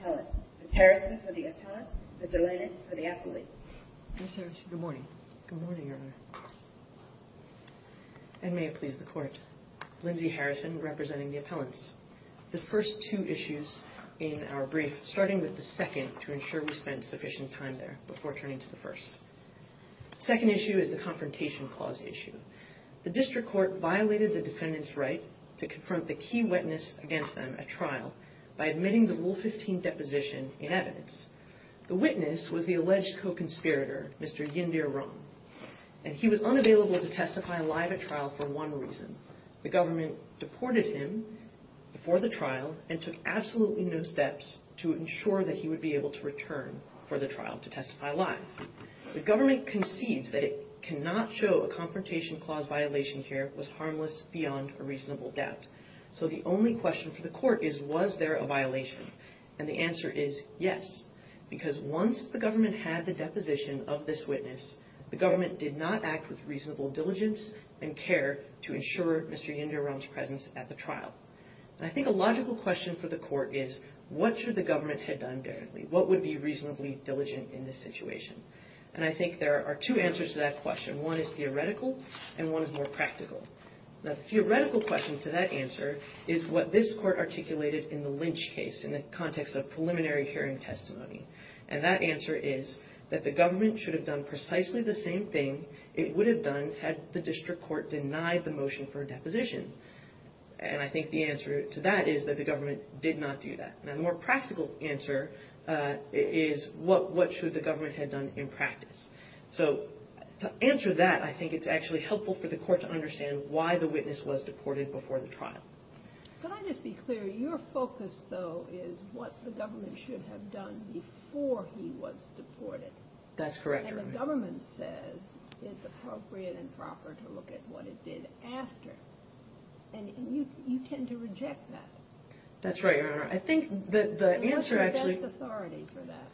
Appellant. Ms. Harrison for the appellant, Mr. Lennon for the appellate. Good morning. Good morning, Your Honor. And may it please the Court. Lindsay Harrison representing the appellants. The first two issues in our brief, starting with the second to ensure we spent sufficient time there before turning to the first. The second issue is the Confrontation Clause issue. The District Court violated the defendant's right to confront the key witness against them at trial by admitting the Rule 15 deposition in evidence. The witness was the alleged co-conspirator, Mr. Yindir Rung. And he was unavailable to testify live at trial for one reason. The government deported him before the trial and took absolutely no steps to ensure that he would be able to return for the trial to testify live. The government concedes that it cannot show a Confrontation Clause violation here was harmless beyond a reasonable doubt. So the only question for the Court is, was there a violation? And the answer is yes. Because once the government had the deposition of this witness, the government did not act with reasonable diligence and care to ensure Mr. Yindir Rung's presence at the trial. And I think a logical question for the Court is, what should the government have done differently? What would be reasonably diligent in this situation? And I think there are two answers to that question. One is theoretical and one is more practical. The theoretical question to that answer is what this Court articulated in the Lynch case in the context of preliminary hearing testimony. And that answer is that the government should have done precisely the same thing it would have done had the District Court denied the motion for a deposition. And I think the answer to that is that the government did not do that. And a more practical answer is what should the government have done in practice? So to answer that, I think it's actually helpful for the Court to understand why the witness was deported before the trial. Can I just be clear? Your focus, though, is what the government should have done before he was deported. That's correct, Your Honor. And the government says it's appropriate and proper to look at what it did after. And you tend to reject that. That's right, Your Honor. I think that the answer actually... What's the best authority for that?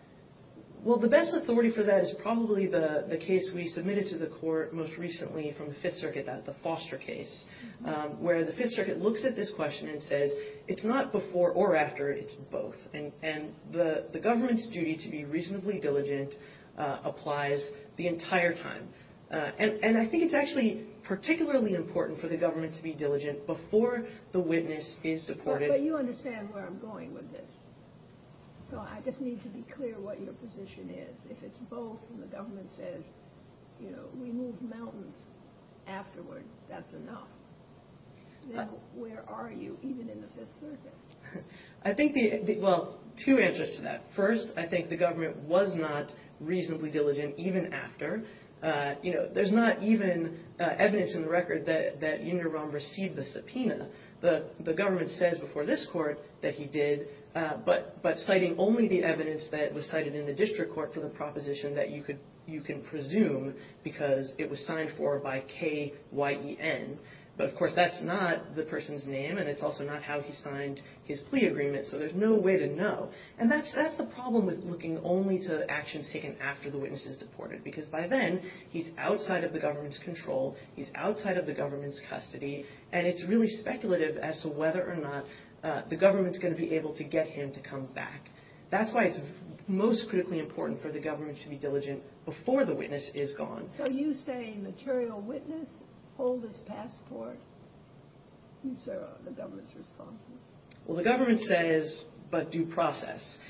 Well, the best authority for that is probably the case we submitted to the Court most recently from the Fifth Circuit, the Foster case, where the Fifth Circuit looks at this question and says it's not before or after, it's both. And the government's duty to be reasonably diligent applies the entire time. And I think it's actually particularly important for the But you understand where I'm going with this. So I just need to be clear what your position is. If it's both and the government says, you know, we move mountains afterward, that's enough. Then where are you even in the Fifth Circuit? I think the... Well, two answers to that. First, I think the government was not reasonably diligent even after. You know, there's not even evidence in the record that Union of before this court that he did, but citing only the evidence that was cited in the district court for the proposition that you could presume because it was signed for by K-Y-E-N. But, of course, that's not the person's name and it's also not how he signed his plea agreement. So there's no way to know. And that's the problem with looking only to actions taken after the witness is deported. Because by then, he's outside of the government's control. He's outside of the government's custody. And it's really speculative as to whether or not the government's going to be able to get him to come back. That's why it's most critically important for the government to be diligent before the witness is gone. So you say material witness hold his passport? Is there a government's response? Well, the government said is but due process.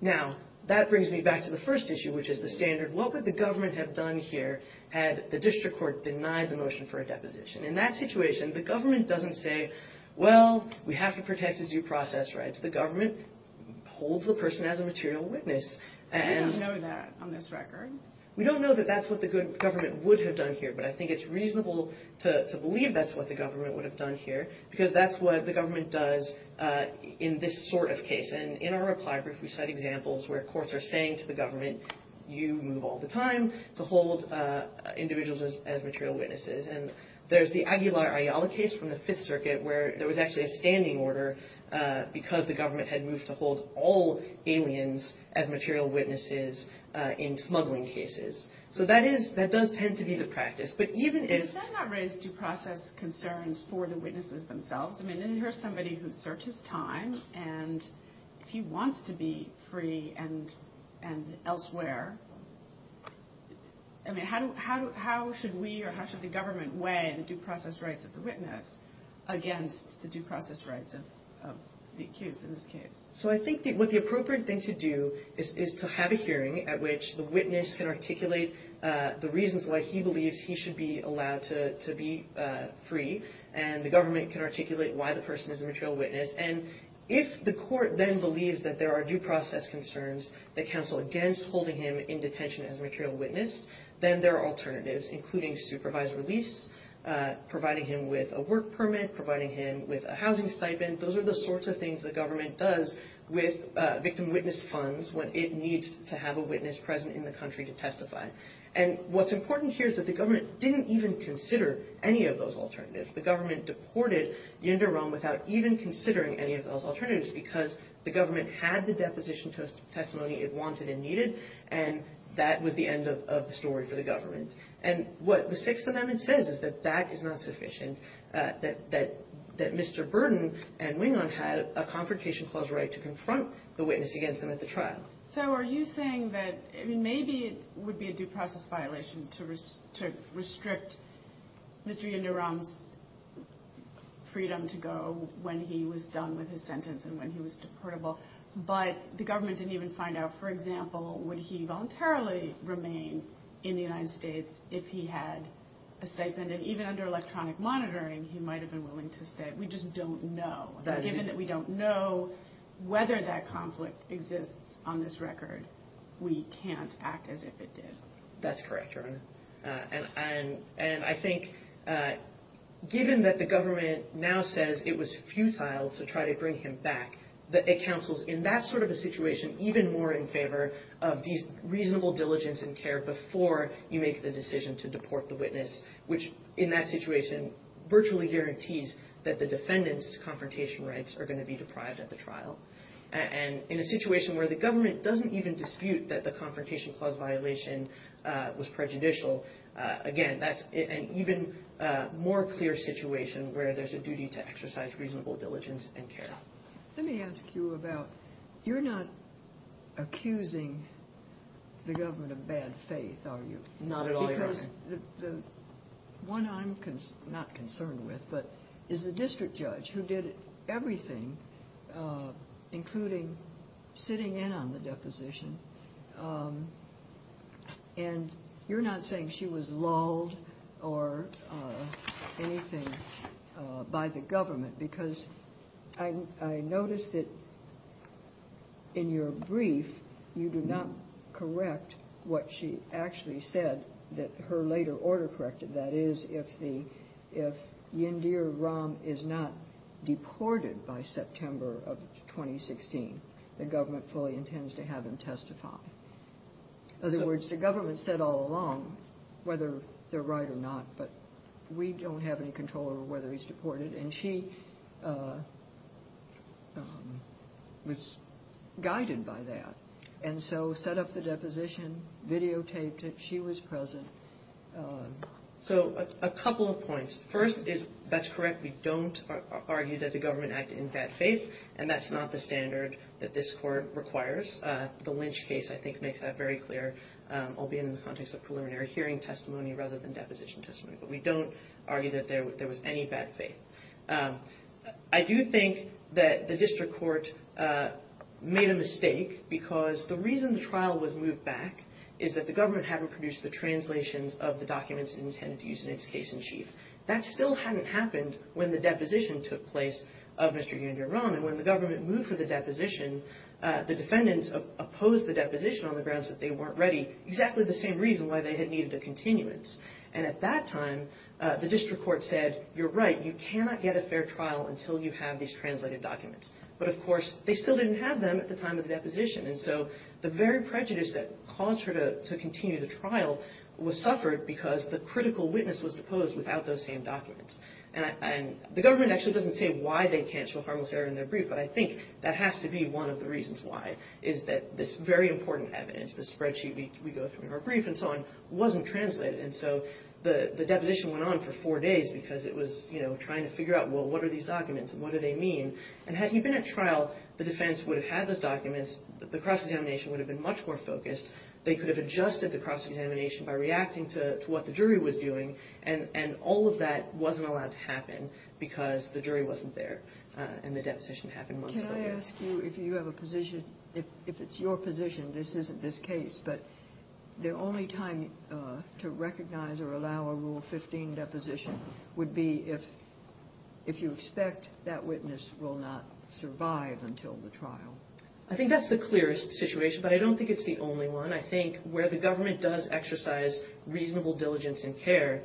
Now, that brings me back to the first issue, which is the standard. What would the government have done here had the district court denied the motion for a deposition? In that situation, the government doesn't say, well, we have to protect his due process rights. The government holds the person as a material witness. We don't know that on this record. We don't know that that's what the government would have done here. But I think it's reasonable to believe that's what the government would have done here because that's what the government does in this sort of case. And in our reply brief, we cite examples where courts are saying to the government, you move all the time to hold individuals as material witnesses. And there's the Aguilar Ayala case from the Fifth Circuit where there was actually a standing order because the government had moved to hold all aliens as material witnesses in smuggling cases. So that does tend to be the practice. But even if- Is that not raised due process concerns for the witnesses themselves? I mean, here's somebody who's served his time. And if he wants to be free and elsewhere, I mean, how should we or how should the government weigh the due process rights of the witness against the due process rights of the accused in this case? So I think that what the appropriate thing to do is to have a hearing at which the witness can articulate the reasons why he believes he should be allowed to be free. And the government can articulate why the person is a material witness. And if the court then believes that there are due process concerns that counsel against holding him in detention as a material witness, then there are alternatives, including supervised release, providing him with a work permit, providing him with a housing stipend. Those are the sorts of things the government does with victim witness funds when it needs to have a witness present in the country to testify. And what's important here is that the government didn't even consider any of those alternatives. The government deported Yinder Rahm without even considering any of those alternatives because the government had the deposition testimony it wanted and needed, and that was the end of the story for the government. And what the Sixth Amendment says is that that is not sufficient, that Mr. Burden and Wingon had a confrontation clause right to confront the witness against them at the trial. So are you saying that maybe it would be a due process violation to restrict Mr. Yinder Rahm's freedom to go when he was done with his sentence and when he was deportable, but the government didn't even find out, for example, would he voluntarily remain in the United States if he had a stipend? And even under electronic monitoring, he might have been willing to stay. We just don't know. Given that we don't know whether that conflict exists on this record, we can't act as if it did. That's correct, Your Honor. And I think given that the government now says it was futile to try to bring him back, that it counsels in that sort of a situation even more in favor of these reasonable diligence and care before you make the decision to deport the witness, which in that situation virtually guarantees that the defendant's confrontation rights are going to be deprived at the trial. And in a situation where the government doesn't even dispute that the confrontation clause violation was prejudicial, again, that's an even more clear situation where there's a duty to exercise reasonable diligence and care. Let me ask you about, you're not accusing the government of bad faith, are you? Not at all, Your Honor. Because the one I'm not concerned with is the district judge who did everything, including sitting in on the deposition. And you're not saying she was lulled or anything by the government because I noticed that in your brief, you do not correct what she actually said that her later order corrected. That is, if Yindir Rahm is not deported by September of 2016, the government fully intends to have him testify. In other words, the government said all along, whether they're right or not, but we don't have any control over whether he's deported. And she was guided by that. And so set up the deposition, videotaped it, she was present. So a couple of points. First is, that's correct, we don't argue that the government acted in defiance of not the standard that this court requires. The Lynch case, I think, makes that very clear, albeit in the context of preliminary hearing testimony rather than deposition testimony. But we don't argue that there was any bad faith. I do think that the district court made a mistake because the reason the trial was moved back is that the government hadn't produced the translations of the documents intended to use in its case in chief. That still hadn't happened when the deposition took place of Mr. Yindir Rahm. And when the government moved for the deposition, the defendants opposed the deposition on the grounds that they weren't ready, exactly the same reason why they had needed a continuance. And at that time, the district court said, you're right, you cannot get a fair trial until you have these translated documents. But of course, they still didn't have them at the time of the deposition. And so the very prejudice that caused her to continue the trial was suffered because the critical witness was deposed without those same documents. The government actually doesn't say why they canceled Harmless Error in their brief, but I think that has to be one of the reasons why, is that this very important evidence, the spreadsheet we go through in our brief and so on, wasn't translated. And so the deposition went on for four days because it was trying to figure out, well, what are these documents and what do they mean? And had he been at trial, the defense would have had those documents, the cross-examination would have been much more focused. They could have adjusted the because the jury wasn't there and the deposition happened months later. Can I ask you if you have a position, if it's your position, this isn't this case, but the only time to recognize or allow a Rule 15 deposition would be if you expect that witness will not survive until the trial. I think that's the clearest situation, but I don't think it's the only one. I think where the government does exercise reasonable diligence and care,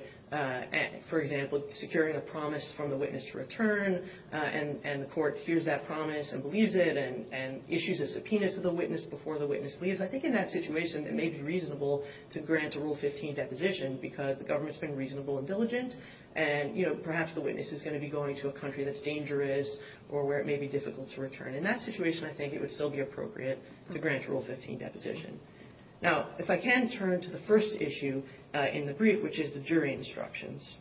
for example, securing a promise from the witness to return and the court hears that promise and believes it and issues a subpoena to the witness before the witness leaves, I think in that situation it may be reasonable to grant a Rule 15 deposition because the government's been reasonable and diligent and perhaps the witness is going to be going to a country that's dangerous or where it may be difficult to return. In that situation, I think it would still be appropriate to grant a Rule 15 deposition. Now, if I can turn to the first issue in the brief, which is the jury instructions.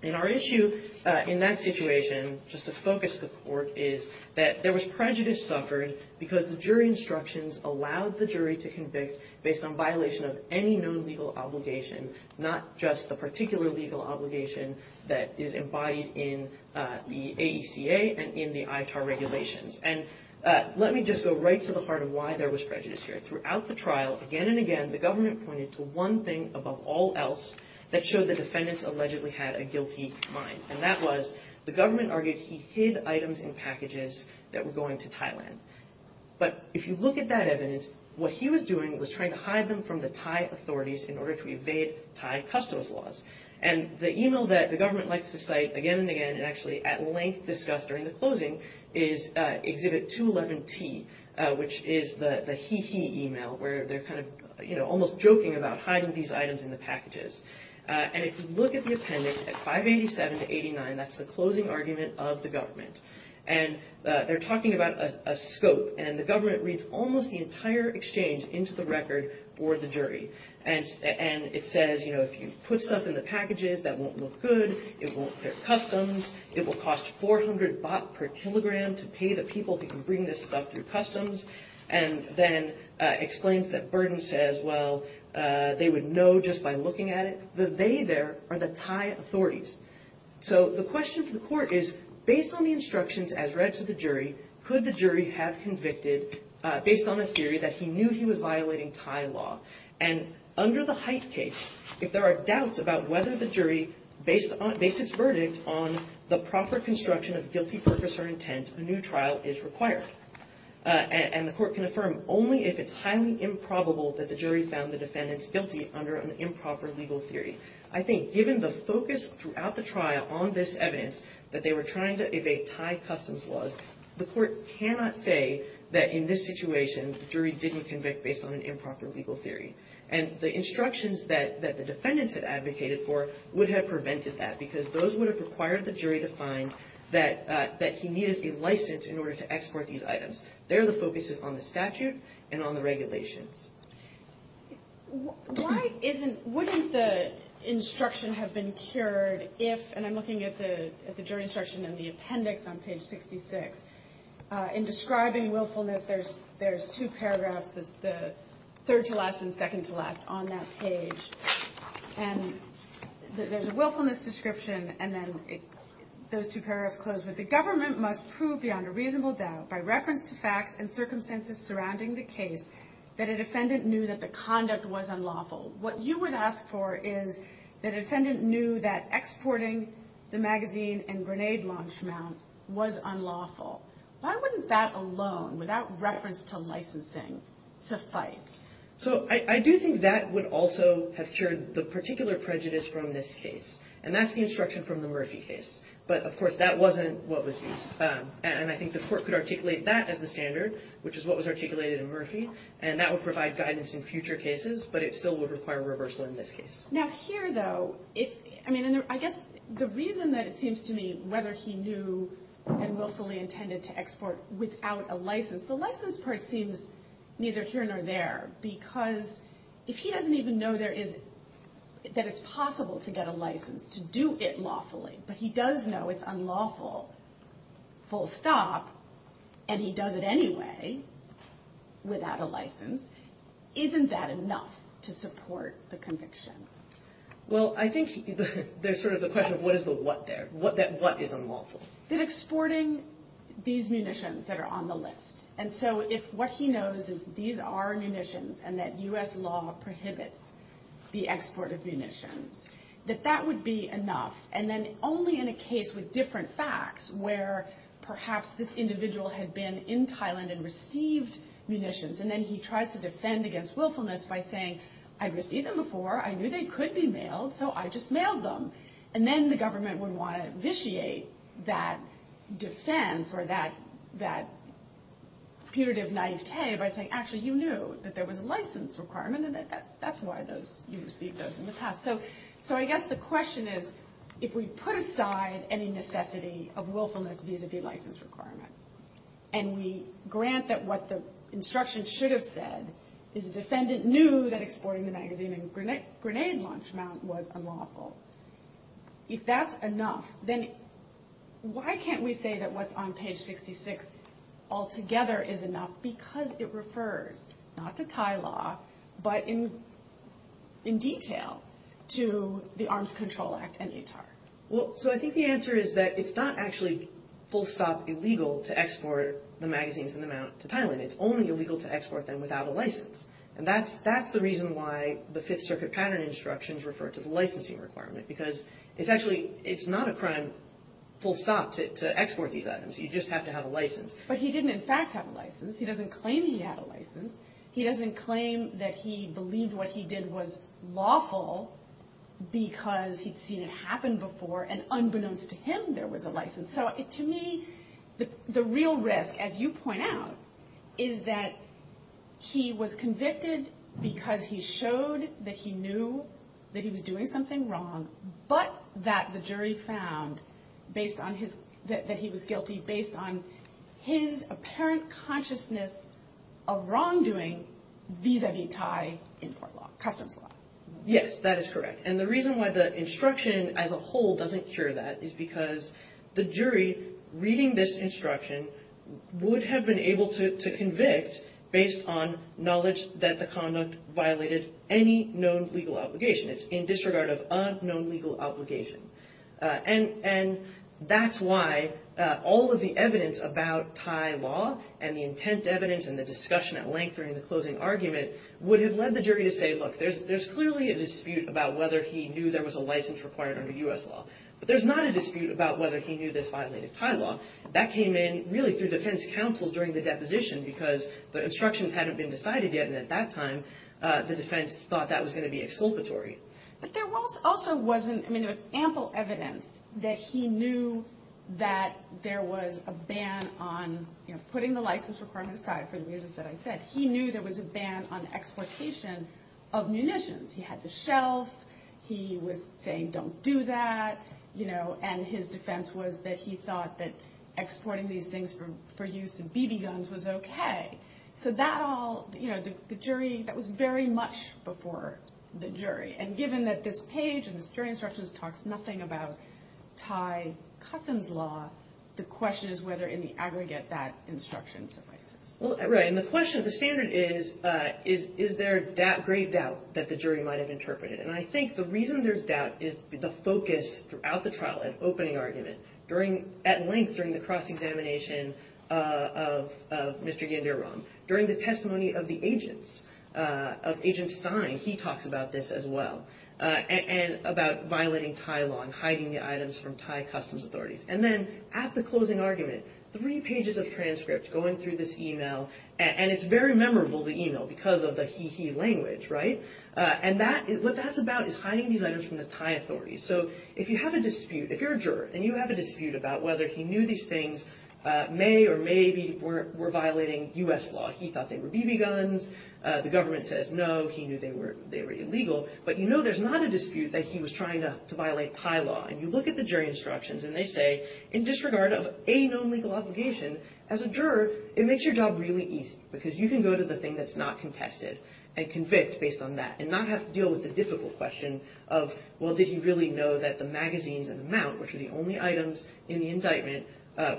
In our issue in that situation, just to focus the court, is that there was prejudice suffered because the jury instructions allowed the jury to convict based on violation of any known legal obligation, not just the particular legal obligation that is embodied in the AECA and in the ITAR regulations. And let me just go right to the heart of why there was prejudice here. Throughout the trial, again and again, the government pointed to one thing above all else that showed the defendants allegedly had a guilty mind. And that was the government argued he hid items in packages that were going to Thailand. But if you look at that evidence, what he was doing was trying to hide them from the Thai authorities in order to evade Thai customs laws. And the email that the government likes to cite again and again, and actually at length discussed during the closing, is Exhibit 211T, which is the he-he email, where they're almost joking about hiding these items in the packages. And if you look at the appendix at 587-89, that's the closing argument of the government. And they're talking about a scope, and the government reads almost the entire exchange into the record for the jury. And it says, you know, if you put stuff in the packages, that won't look good, it won't clear customs, it will cost 400 baht per kilogram to pay the people who can bring this stuff through customs. And then explains that Burden says, well, they would know just by looking at it, that they there are the Thai authorities. So the question for the court is, based on the instructions as read to the jury, could the jury have convicted based on a theory that he knew he was violating Thai law? And under the Haidt case, if there are doubts about whether the jury, based its verdict on the proper construction of guilty purpose or intent, a new trial is required. And the court can affirm only if it's highly improbable that the jury found the defendants guilty under an improper legal theory. I think given the focus throughout the trial on this evidence, that they were trying to evade Thai customs laws, the court cannot say that in this situation, the jury didn't convict based on an improper legal theory. And the instructions that the defendants had advocated for would have prevented that, because those would have required the jury to find that he needed a license in order to export these items. There the focus is on the statute and on the regulations. Why isn't, wouldn't the instruction have been cured if, and I'm looking at the jury instruction in the appendix on page 66, in describing willfulness, there's two paragraphs, the third to last and second to last on that page. And there's a willfulness description, and then those two paragraphs close with, the government must prove beyond a reasonable doubt by reference to facts and circumstances surrounding the case, that a defendant knew that the conduct was unlawful. What you would ask for is that a defendant knew that exporting the magazine and grenade launch mount was unlawful. Why wouldn't that alone, without reference to licensing, suffice? So I do think that would also have cured the particular prejudice from this case. And that's the instruction from the Murphy case. But of course, that wasn't what was used. And I think the court could articulate that as the standard, which is what was articulated in Murphy. And that would provide guidance in future cases, but it still would require reversal in this case. Now here though, if, I mean, I guess the reason that it seems to me, whether he knew and willfully intended to export without a license, the license part seems neither here nor there. Because if he doesn't even know there is, that it's possible to get a license, to do it lawfully, but he does know it's unlawful, full stop, and he does it anyway, without a license, isn't that enough to support the conviction? Well I think there's sort of the question of what is the what there? What is unlawful? That exporting these munitions that are on the list, and so if what he knows is these are munitions, and that US law prohibits the export of munitions, that that would be enough. And then only in a case with different facts, where perhaps this individual had been in Thailand and received munitions, and then he tries to defend against willfulness by saying, I received them before, I knew they could be mailed, so I just mailed them. And then the government would want to vitiate that defense, or that putative naivete by saying actually you knew that there was a license requirement, and that's why you received those in the past. So I guess the question is, if we put aside any necessity of willfulness vis-a-vis license requirement, and we grant that what the instruction should have said is the defendant knew that exporting the magazine and grenade launch mount was unlawful, if that's enough, then why can't we say that what's on page 66 altogether is enough, because it refers not to Thai law, but in detail to the Arms Control Act and ATAR? So I think the answer is that it's not actually full stop illegal to export the magazines and the mount to Thailand, it's only illegal to export them without a license. And that's the reason why the Fifth Circuit pattern instructions refer to the licensing requirement, because it's actually, it's not a crime full stop to export these items, you just have to have a license. But he didn't in fact have a license, he doesn't claim he had a license, he doesn't claim that he believed what he did was lawful because he'd seen it happen before, and unbeknownst to him there was a license. So to me, the real risk, as you point out, is that he was convicted because he showed that he knew that he was doing something wrong, but that the jury found that he was guilty based on his apparent consciousness of wrongdoing vis-a-vis Thai import law, customs law. Yes, that is correct. And the reason why the instruction as a whole doesn't cure that is because the jury, reading this instruction, would have been able to convict based on knowledge that the conduct violated any known legal obligation. It's in disregard of a known legal obligation. And that's why all of the evidence about Thai law and the intent evidence and the discussion at length during the closing argument would have led the jury to say, look, there's clearly a dispute about whether he knew there was a license required under U.S. law. But there's not a dispute about whether he knew this violated Thai law. That came in really through defense counsel during the deposition because the instructions hadn't been decided yet, and at that time the defense thought that was going to be exculpatory. But there also wasn't, I mean, there was ample evidence that he knew that there was a ban on putting the license requirement aside for the reasons that I said. He knew there was a ban on exploitation of munitions. He had the shelf. He was saying don't do that. And his defense was that he thought that exporting these things for use in BB guns was okay. So that all, the jury, that was very much before the jury. And given that this page and this jury instructions talks nothing about Thai customs law, the question is whether in the aggregate that instruction suffices. Right. And the question, the standard is, is there grave doubt that the jury might have interpreted? And I think the reason there's doubt is the focus throughout the trial, at opening argument, during, at length, during the cross-examination of Mr. Yanderam, during the testimony of the agents, of Agent Stein, he talks about this as well, and about violating Thai law and hiding the items from Thai customs authorities. And then at the closing argument, three pages of transcript going through this email, and it's very memorable, the email, because of the he-he language, right? And that, what that's about is hiding these items from the Thai authorities. So if you have a dispute, if you're a juror, and you have a dispute about whether he knew these things may or may be, were violating US law, he thought they were BB guns, the government says no, he knew they were illegal, but you know there's not a dispute that he was trying to violate Thai law. And you look at the jury instructions and they say, in disregard of a known legal obligation, as a juror, it makes your job really easy, because you can go to the thing that's not contested, and convict based on that, and not have to deal with the difficult question of, well did he really know that the magazines and the mount, which are the only items in the indictment,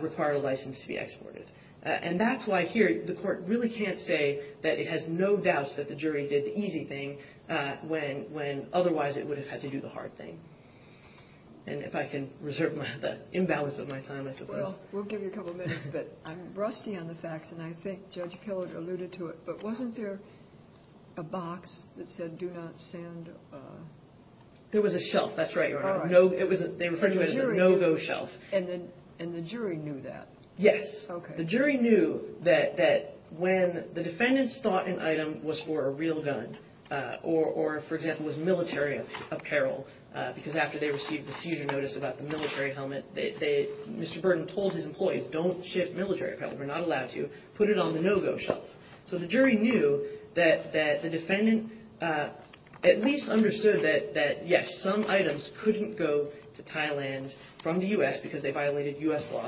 required a license to be exported. And that's why here, the court really can't say that it has no doubts that the jury did the easy thing, when, when otherwise it would have had to do the hard thing. And if I can reserve the imbalance of my time, I suppose. Well, we'll give you a couple minutes, but I'm rusty on the facts, and I think Judge Pillard alluded to it, but wasn't there a box that said do not send a... There was a shelf, that's right, Your Honor, they referred to it as a no-go shelf. And the jury knew that? Yes. The jury knew that when the defendants thought an item was for a real gun, or for example, was military apparel, because after they received the seizure notice about the military helmet, Mr. Burden told his employees, don't ship military apparel, we're not allowed to, put it on the no-go shelf. So the jury knew that the defendant at least understood that yes, some items couldn't go to Thailand from the U.S. because they violated U.S. law.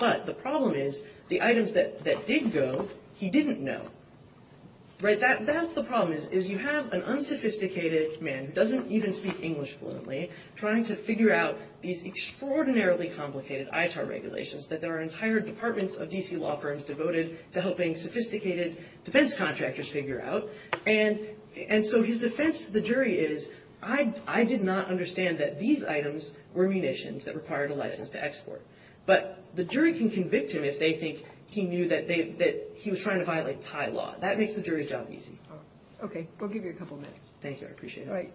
But the problem is, the items that did go, he didn't know. Right, that's the problem, is you have an unsophisticated man who doesn't even speak English fluently trying to figure out these extraordinarily complicated ITAR regulations that there are entire departments of D.C. law firms devoted to helping sophisticated defense contractors figure out, and so his defense to the jury is, I did not understand that these items were munitions that required a license to export. But the jury can convict him if they think he knew that he was trying to violate Thai law. That makes the jury's job easy. Okay, we'll give you a couple minutes. Thank you, I appreciate it. All right.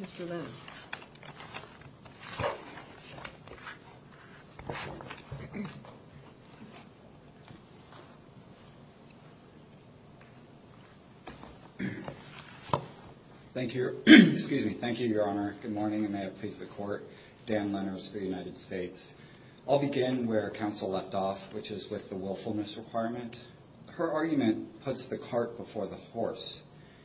Mr. Lennon. Thank you, Your Honor. Good morning, and may it please the Court. Dan Lenners for the United States Department. Her argument puts the cart before the horse.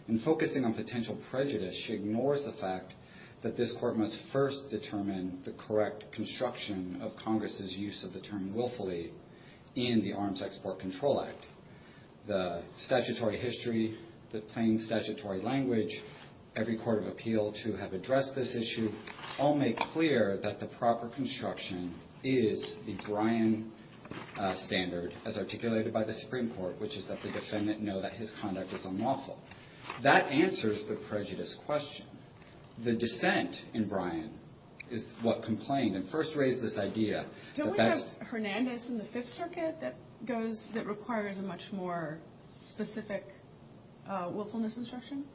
In focusing on potential prejudice, she ignores the fact that this Court must first determine the correct construction of Congress's use of the term willfully in the Arms Export Control Act. The statutory history, the plain statutory language, every court of appeal to have addressed this issue all make clear that the proper construction is the Bryan standard as articulated by the Supreme Court, which is that the defendant know that his conduct is unlawful. That answers the prejudice question. The dissent in Bryan is what complained and first raised this idea that that's... Don't we have Hernandez in the Fifth Circuit that goes, that requires a much more specific willfulness instruction?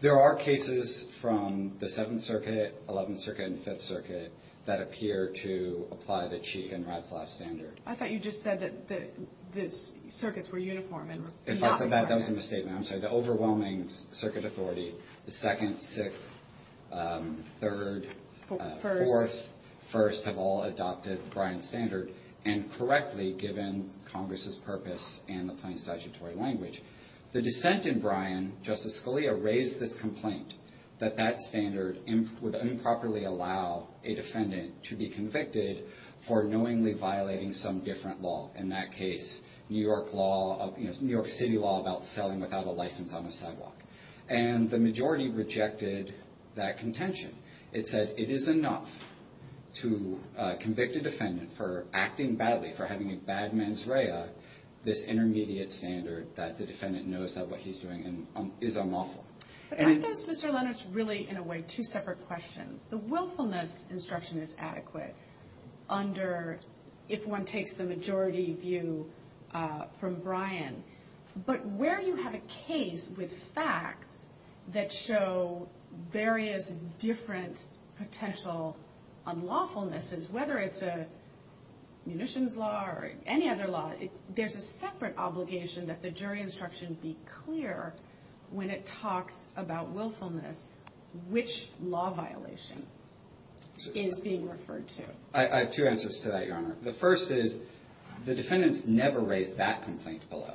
There are cases from the Seventh Circuit, Eleventh Circuit, and Fifth Circuit that appear to apply the Cheek and Ratzlaff standard. I thought you just said that the circuits were uniform and not the Bryan. If I said that, that was a misstatement. I'm sorry. The overwhelming circuit authority, the Second, Sixth, Third, Fourth, First, have all adopted the Bryan standard, and correctly given Congress's purpose and the plain statutory language. The dissent in Bryan, Justice Scalia raised this complaint that that standard would improperly allow a defendant to be convicted for knowingly violating some different law. In that case, New York City law about selling without a license on a sidewalk. The majority rejected that contention. It said it is enough to convict a defendant for acting badly, for having a bad mens rea, this intermediate standard that the defendant knows that what he's doing is unlawful. But aren't those, Mr. Leonard, really in a way two separate questions? The willfulness instruction is adequate under, if one takes the majority view from Bryan. But where you have a case with facts that show various different potential unlawfulnesses, whether it's a munitions law or any other law, there's a separate obligation that the court has to make clear when it talks about willfulness, which law violation is being referred to. I have two answers to that, Your Honor. The first is the defendants never raised that complaint below.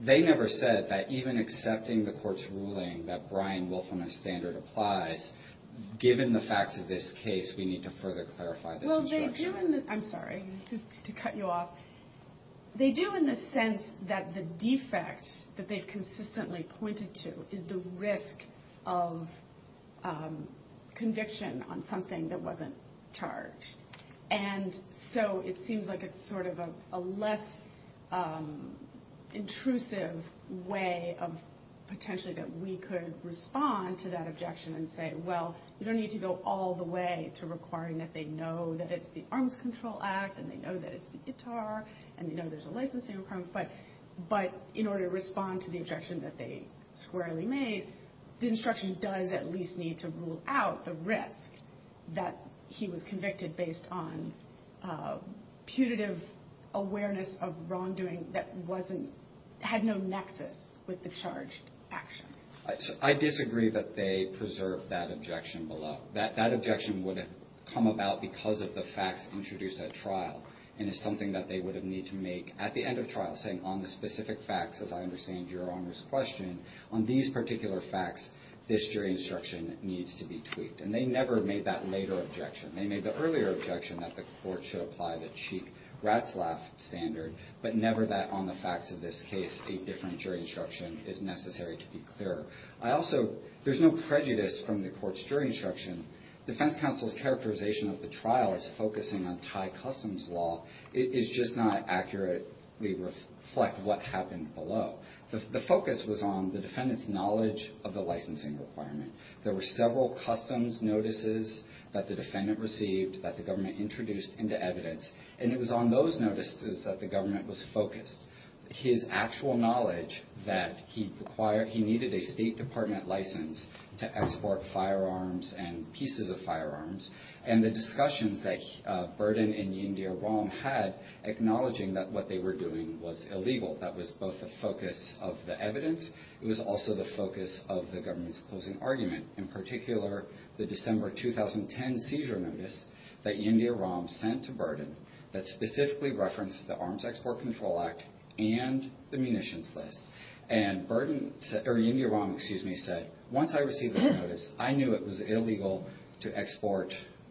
They never said that even accepting the court's ruling that Bryan willfulness standard applies, given the facts of this case, we need to further clarify this instruction. I'm sorry to cut you off. They do in the sense that the defect that they've consistently pointed to is the risk of conviction on something that wasn't charged. And so it seems like it's sort of a less intrusive way of potentially that we could respond to that objection and say, well, you don't need to go all the way to requiring that they know that it's the Crimes Control Act, and they know that it's the ITAR, and they know there's a licensing requirement. But in order to respond to the objection that they squarely made, the instruction does at least need to rule out the risk that he was convicted based on putative awareness of wrongdoing that had no nexus with the charged action. I disagree that they preserve that objection below. That objection would have come about because of the facts introduced at trial, and it's something that they would have need to make at the end of trial, saying on the specific facts, as I understand Your Honor's question, on these particular facts, this jury instruction needs to be tweaked. And they never made that later objection. They made the earlier objection that the court should apply the cheap rat's laugh standard, but never that on the facts of this case, a different jury instruction is necessary to be clearer. I also, there's no prejudice from the court's jury instruction. Defense counsel's characterization of the trial as focusing on Thai customs law is just not accurately reflect what happened below. The focus was on the defendant's knowledge of the licensing requirement. There were several customs notices that the defendant received that the government introduced into evidence, and it was on those notices that the government was focused. His actual knowledge that he required, he needed a State Department license to export firearms and pieces of firearms, and the discussions that Burden and Yindyaram had, acknowledging that what they were doing was illegal. That was both the focus of the evidence. It was also the focus of the government's closing argument, in particular, the December 2010 seizure notice that Yindyaram sent to Burden that specifically referenced the Arms Export Control Act and the munitions list. And Burden, or Yindyaram, excuse me, said, once I received this notice, I knew it was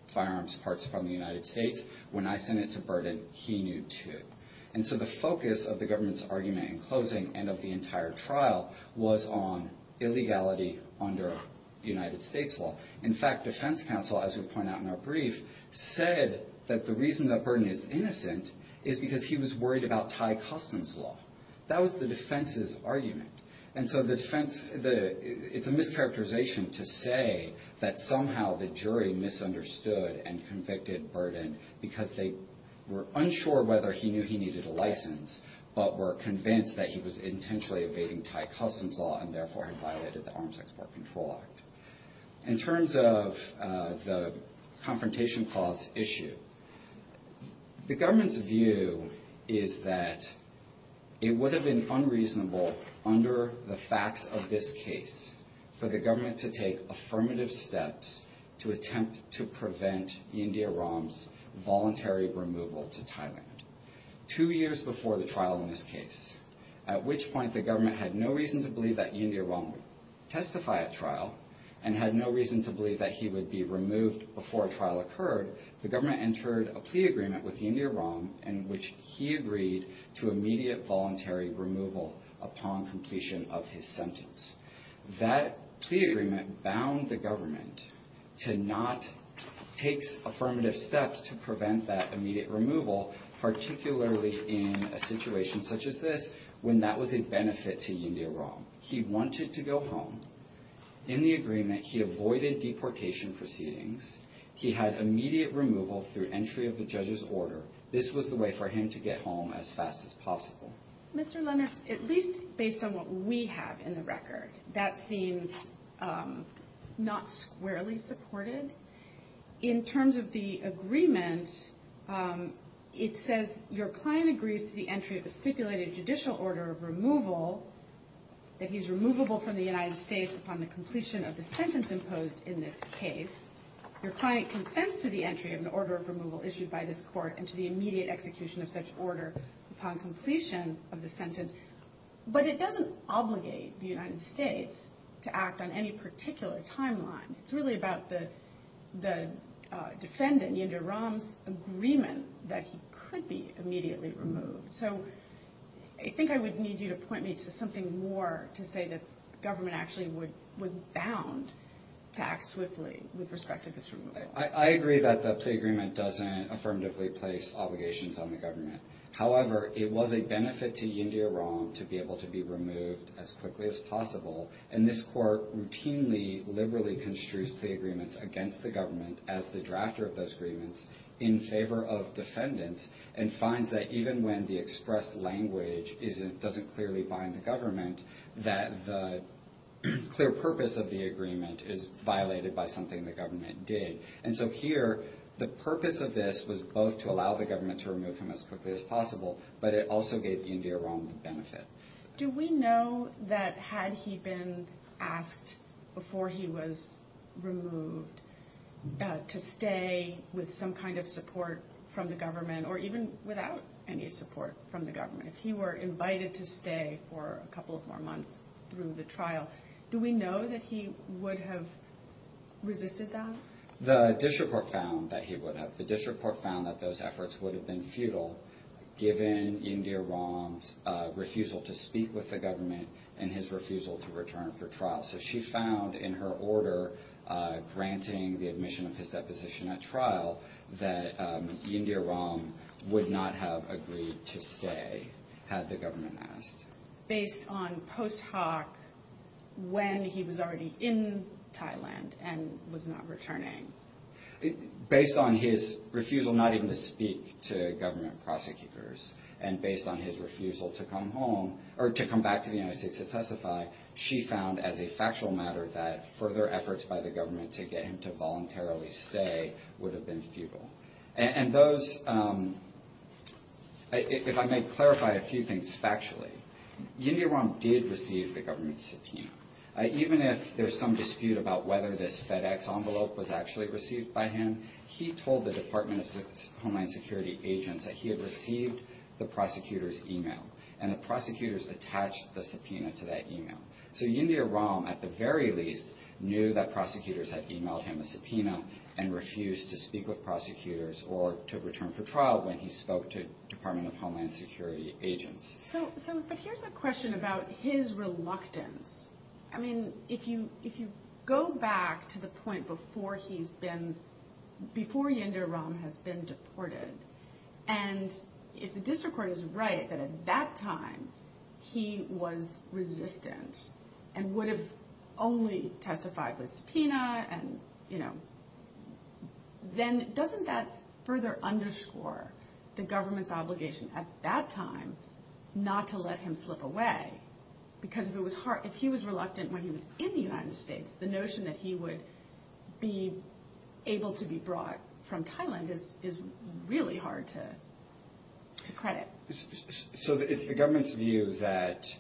firearms parts from the United States. When I sent it to Burden, he knew, too. And so the focus of the government's argument in closing and of the entire trial was on illegality under United States law. In fact, defense counsel, as we point out in our brief, said that the reason that Burden is innocent is because he was worried about Thai customs law. That was the defense's argument. And so the defense, it's a mischaracterization to say that somehow the jury misunderstood and convicted Burden because they were unsure whether he knew he needed a license, but were convinced that he was intentionally evading Thai customs law and therefore had violated the Arms Export Control Act. In terms of the confrontation clause issue, the government's view is that it would have been unreasonable under the facts of this case for the government to take affirmative steps to attempt to prevent Yindyaram's voluntary removal to Thailand. Two years before the trial in this case, at which point the government had no reason to believe that Yindyaram would testify at trial and had no reason to believe that he would be removed before a trial occurred, the government entered a plea agreement with Yindyaram in which he agreed to immediate voluntary removal upon completion of his sentence. That plea agreement bound the government to not take affirmative steps to prevent that immediate removal, particularly in a situation such as this, when that was a benefit to Yindyaram. He wanted to go home. In the agreement, he avoided deportation proceedings. He had immediate removal through entry of the judge's order. This was the way for him to get home as fast as possible. Mr. Lennartz, at least based on what we have in the record, that seems not squarely supported. In terms of the agreement, it says your client agrees to the entry of a stipulated judicial order of removal, that he's removable from the United States upon the completion of the sentence imposed in this case. Your client consents to the entry of an order of removal issued by this court and to the immediate execution of such order upon completion of the sentence, but it doesn't obligate the United States to act on any particular timeline. It's really about the defendant, Yindyaram's agreement that he could be immediately removed. I think I would need you to point me to something more to say that the government actually was bound to act swiftly with respect to this removal. I agree that the plea agreement doesn't affirmatively place obligations on the government. However, it was a benefit to Yindyaram to be able to be removed as quickly as possible, and this court routinely, liberally construes plea agreements against the government as the drafter of those agreements in favor of defendants, and finds that even when the expressed language doesn't clearly bind the government, that the clear purpose of the agreement is violated by something the government did. And so here, the purpose of this was both to allow the government to remove him as quickly as possible, but it also gave Yindyaram the benefit. Do we know that had he been asked before he was removed to stay with some kind of support from the government, or even without any support from the government, if he were invited to stay, would he have resisted that? The district court found that he would have. The district court found that those efforts would have been futile, given Yindyaram's refusal to speak with the government and his refusal to return for trial. So she found in her order granting the admission of his deposition at trial that Yindyaram would not have agreed to stay had the government asked. Based on post hoc, when he was already in Thailand and was not returning? Based on his refusal not even to speak to government prosecutors, and based on his refusal to come home, or to come back to the United States to testify, she found as a factual matter that further efforts by the government to get him to voluntarily stay would have been futile. If I may clarify a few things factually, Yindyaram did receive the government's subpoena. Even if there's some dispute about whether this FedEx envelope was actually received by him, he told the Department of Homeland Security agents that he had received the prosecutor's email, and the prosecutors attached the subpoena to that email. So Yindyaram, at the very least, knew that prosecutors had emailed him a subpoena and refused to speak with prosecutors or to return for trial when he spoke to Department of Homeland Security agents. So, but here's a question about his reluctance. I mean, if you go back to the point before he's been, before Yindyaram has been deported, and if the district court is right that at that time he was resistant and would have only testified with subpoena and, you know, then doesn't that further underscore the government's obligation at that time not to let him slip away? Because if it was hard, if he was reluctant when he was in the United States, the notion that he would be able to be brought from Thailand is really hard to credit. So it's the government's view that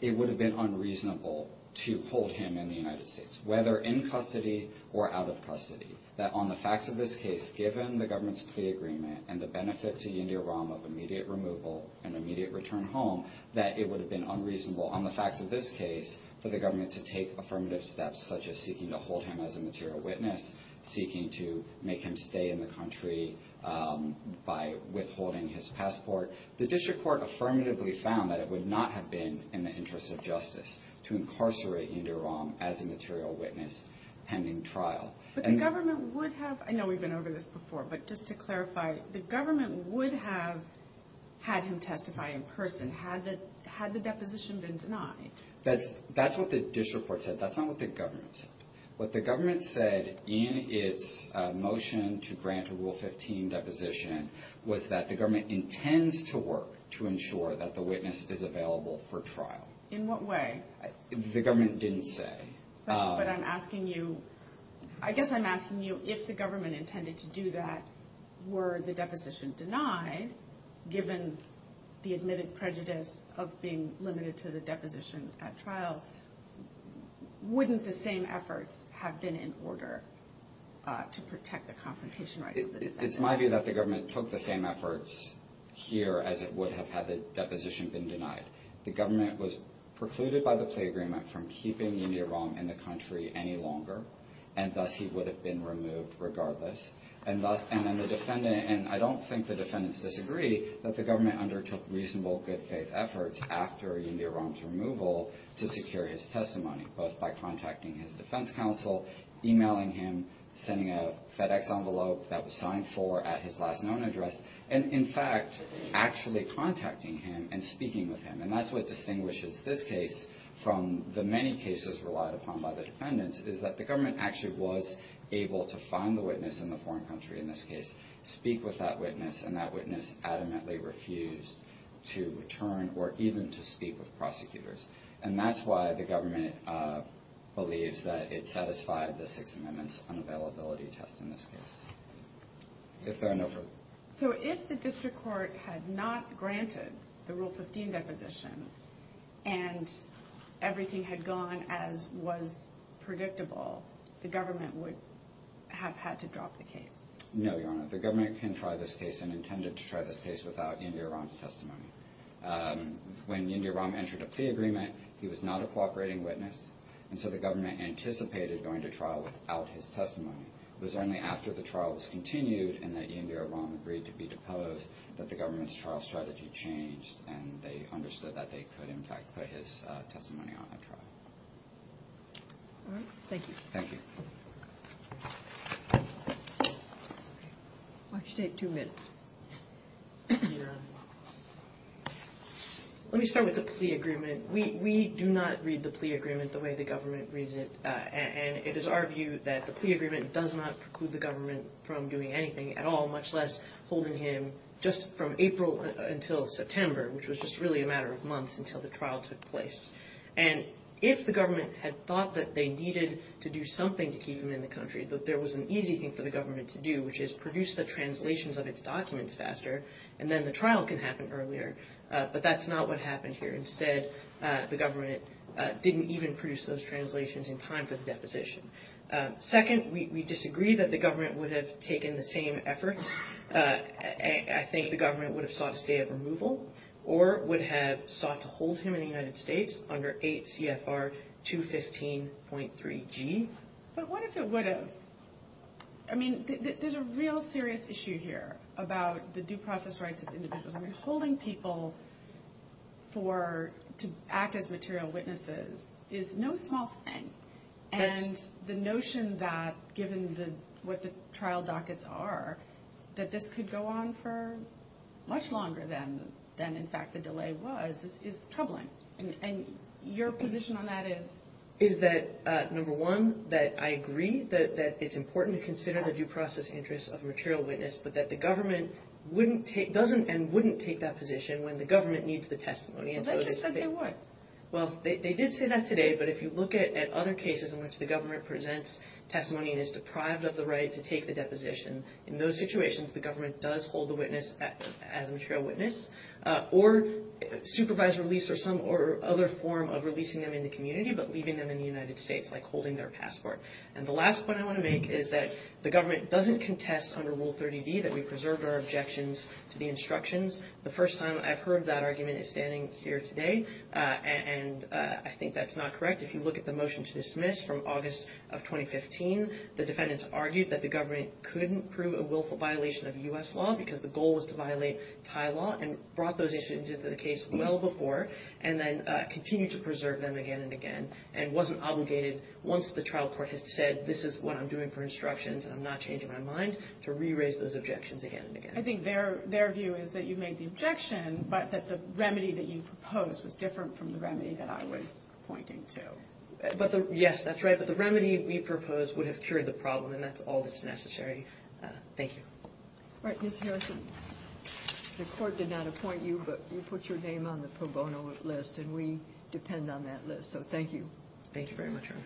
it would have been unreasonable to hold him in the United States, whether in custody or out of custody, that on the facts of this case, given the government's plea agreement and the benefit to Yindyaram of immediate removal and immediate return home, that it would have been unreasonable on the facts of this case for the government to take affirmative steps such as seeking to hold him as a material witness, seeking to make him stay in the country by withholding his passport. The district court affirmatively found that it would not have been in the interest of justice to incarcerate Yindyaram as a material witness pending trial. But the government would have, I know we've been over this before, but just to clarify, the government would have had him testify in person had the deposition been denied. That's what the district court said. That's not what the government said. What the government said in its motion to grant a Rule 15 deposition was that the government intends to work to ensure that the witness is available for trial. In what way? The government didn't say. But I'm asking you, I guess I'm asking you, if the government intended to do that, were the deposition denied, given the admitted prejudice of being limited to the deposition at trial, wouldn't the same efforts have been in order to protect the confrontation rights of the defendants? It's my view that the government took the same efforts here as it would have had the deposition been denied. The government was precluded by the plea agreement from keeping Yindyaram in the country any longer, and thus he would have been removed regardless. And I don't think the defendants disagree that the government undertook reasonable good faith efforts after Yindyaram's removal to secure his testimony, both by contacting his defense counsel, emailing him, sending a FedEx envelope that was signed for at his last known address, and in fact actually contacting him and speaking with him. And that's what distinguishes this case from the many cases relied upon by the defendants, is that the government actually was able to find the witness in the foreign country in this case, speak with that witness, and that witness adamantly refused to return or even to speak with prosecutors. And that's why the government believes that it satisfied the Sixth Amendment's unavailability test in this case. So if the district court had not granted the Rule 15 deposition, and everything had gone as was predictable, the government would have had to drop the case? No, Your Honor. The government can try this case and intended to try this case without Yindyaram's testimony. When Yindyaram entered a plea agreement, he was not a cooperating witness, and so the government anticipated going to trial without his testimony. It was only after the trial was continued and that Yindyaram agreed to be deposed that the government's trial strategy changed and they understood that they could in fact put his testimony on a trial. All right. Thank you. Thank you. Why don't you take two minutes? Let me start with the plea agreement. We do not read the plea agreement the way the government reads it, and it is our view that the plea agreement does not preclude the government from doing anything at all, much less holding him just from April until September, which was just really a matter of months until the trial took place. And if the government had thought that they needed to do something to keep him in the country, that there was an easy thing for the government to do, which is produce the translations of its documents faster, and then the trial can happen earlier, but that's not what happened here. Instead, the government didn't even produce those translations in time for the deposition. Second, we disagree that the government would have taken the same efforts. I think the government would have sought a stay of removal or would have sought to hold him in the United States under 8 CFR 215.3 G. But what if it would have? I mean, there's a real serious issue here about the due process rights of individuals. I mean, holding people to act as material witnesses is no small thing. And the notion that, given what the trial dockets are, that this could go on for much longer than, in fact, the delay was, is troubling. And your position on that is? Is that, number one, that I agree that it's important to consider the due process interests of a material witness, but that the government doesn't and wouldn't take that position when the government needs the testimony. Well, they just said they would. Well, they did say that today, but if you look at other cases in which the government presents testimony and is deprived of the right to take the deposition, in those situations the government does hold the witness as a material witness or supervise release or some or other form of releasing them in the community, but leaving them in the United States, like holding their passport. And the last point I want to make is that the government doesn't contest under Rule 30D that we preserve our objections to the instructions. The first time I've heard that here today, and I think that's not correct. If you look at the motion to dismiss from August of 2015, the defendants argued that the government couldn't prove a willful violation of U.S. law because the goal was to violate Thai law, and brought those issues into the case well before, and then continued to preserve them again and again, and wasn't obligated, once the trial court has said, this is what I'm doing for instructions and I'm not changing my mind, to re-raise those objections again and again. I think their view is that you made the objection, but that the remedy that you proposed was different from the remedy that I was pointing to. Yes, that's right, but the remedy we proposed would have cured the problem, and that's all that's necessary. Thank you. All right, Ms. Harrison, the court did not appoint you, but you put your name on the pro bono list, and we depend on that list, so thank you. Thank you very much, Your Honor.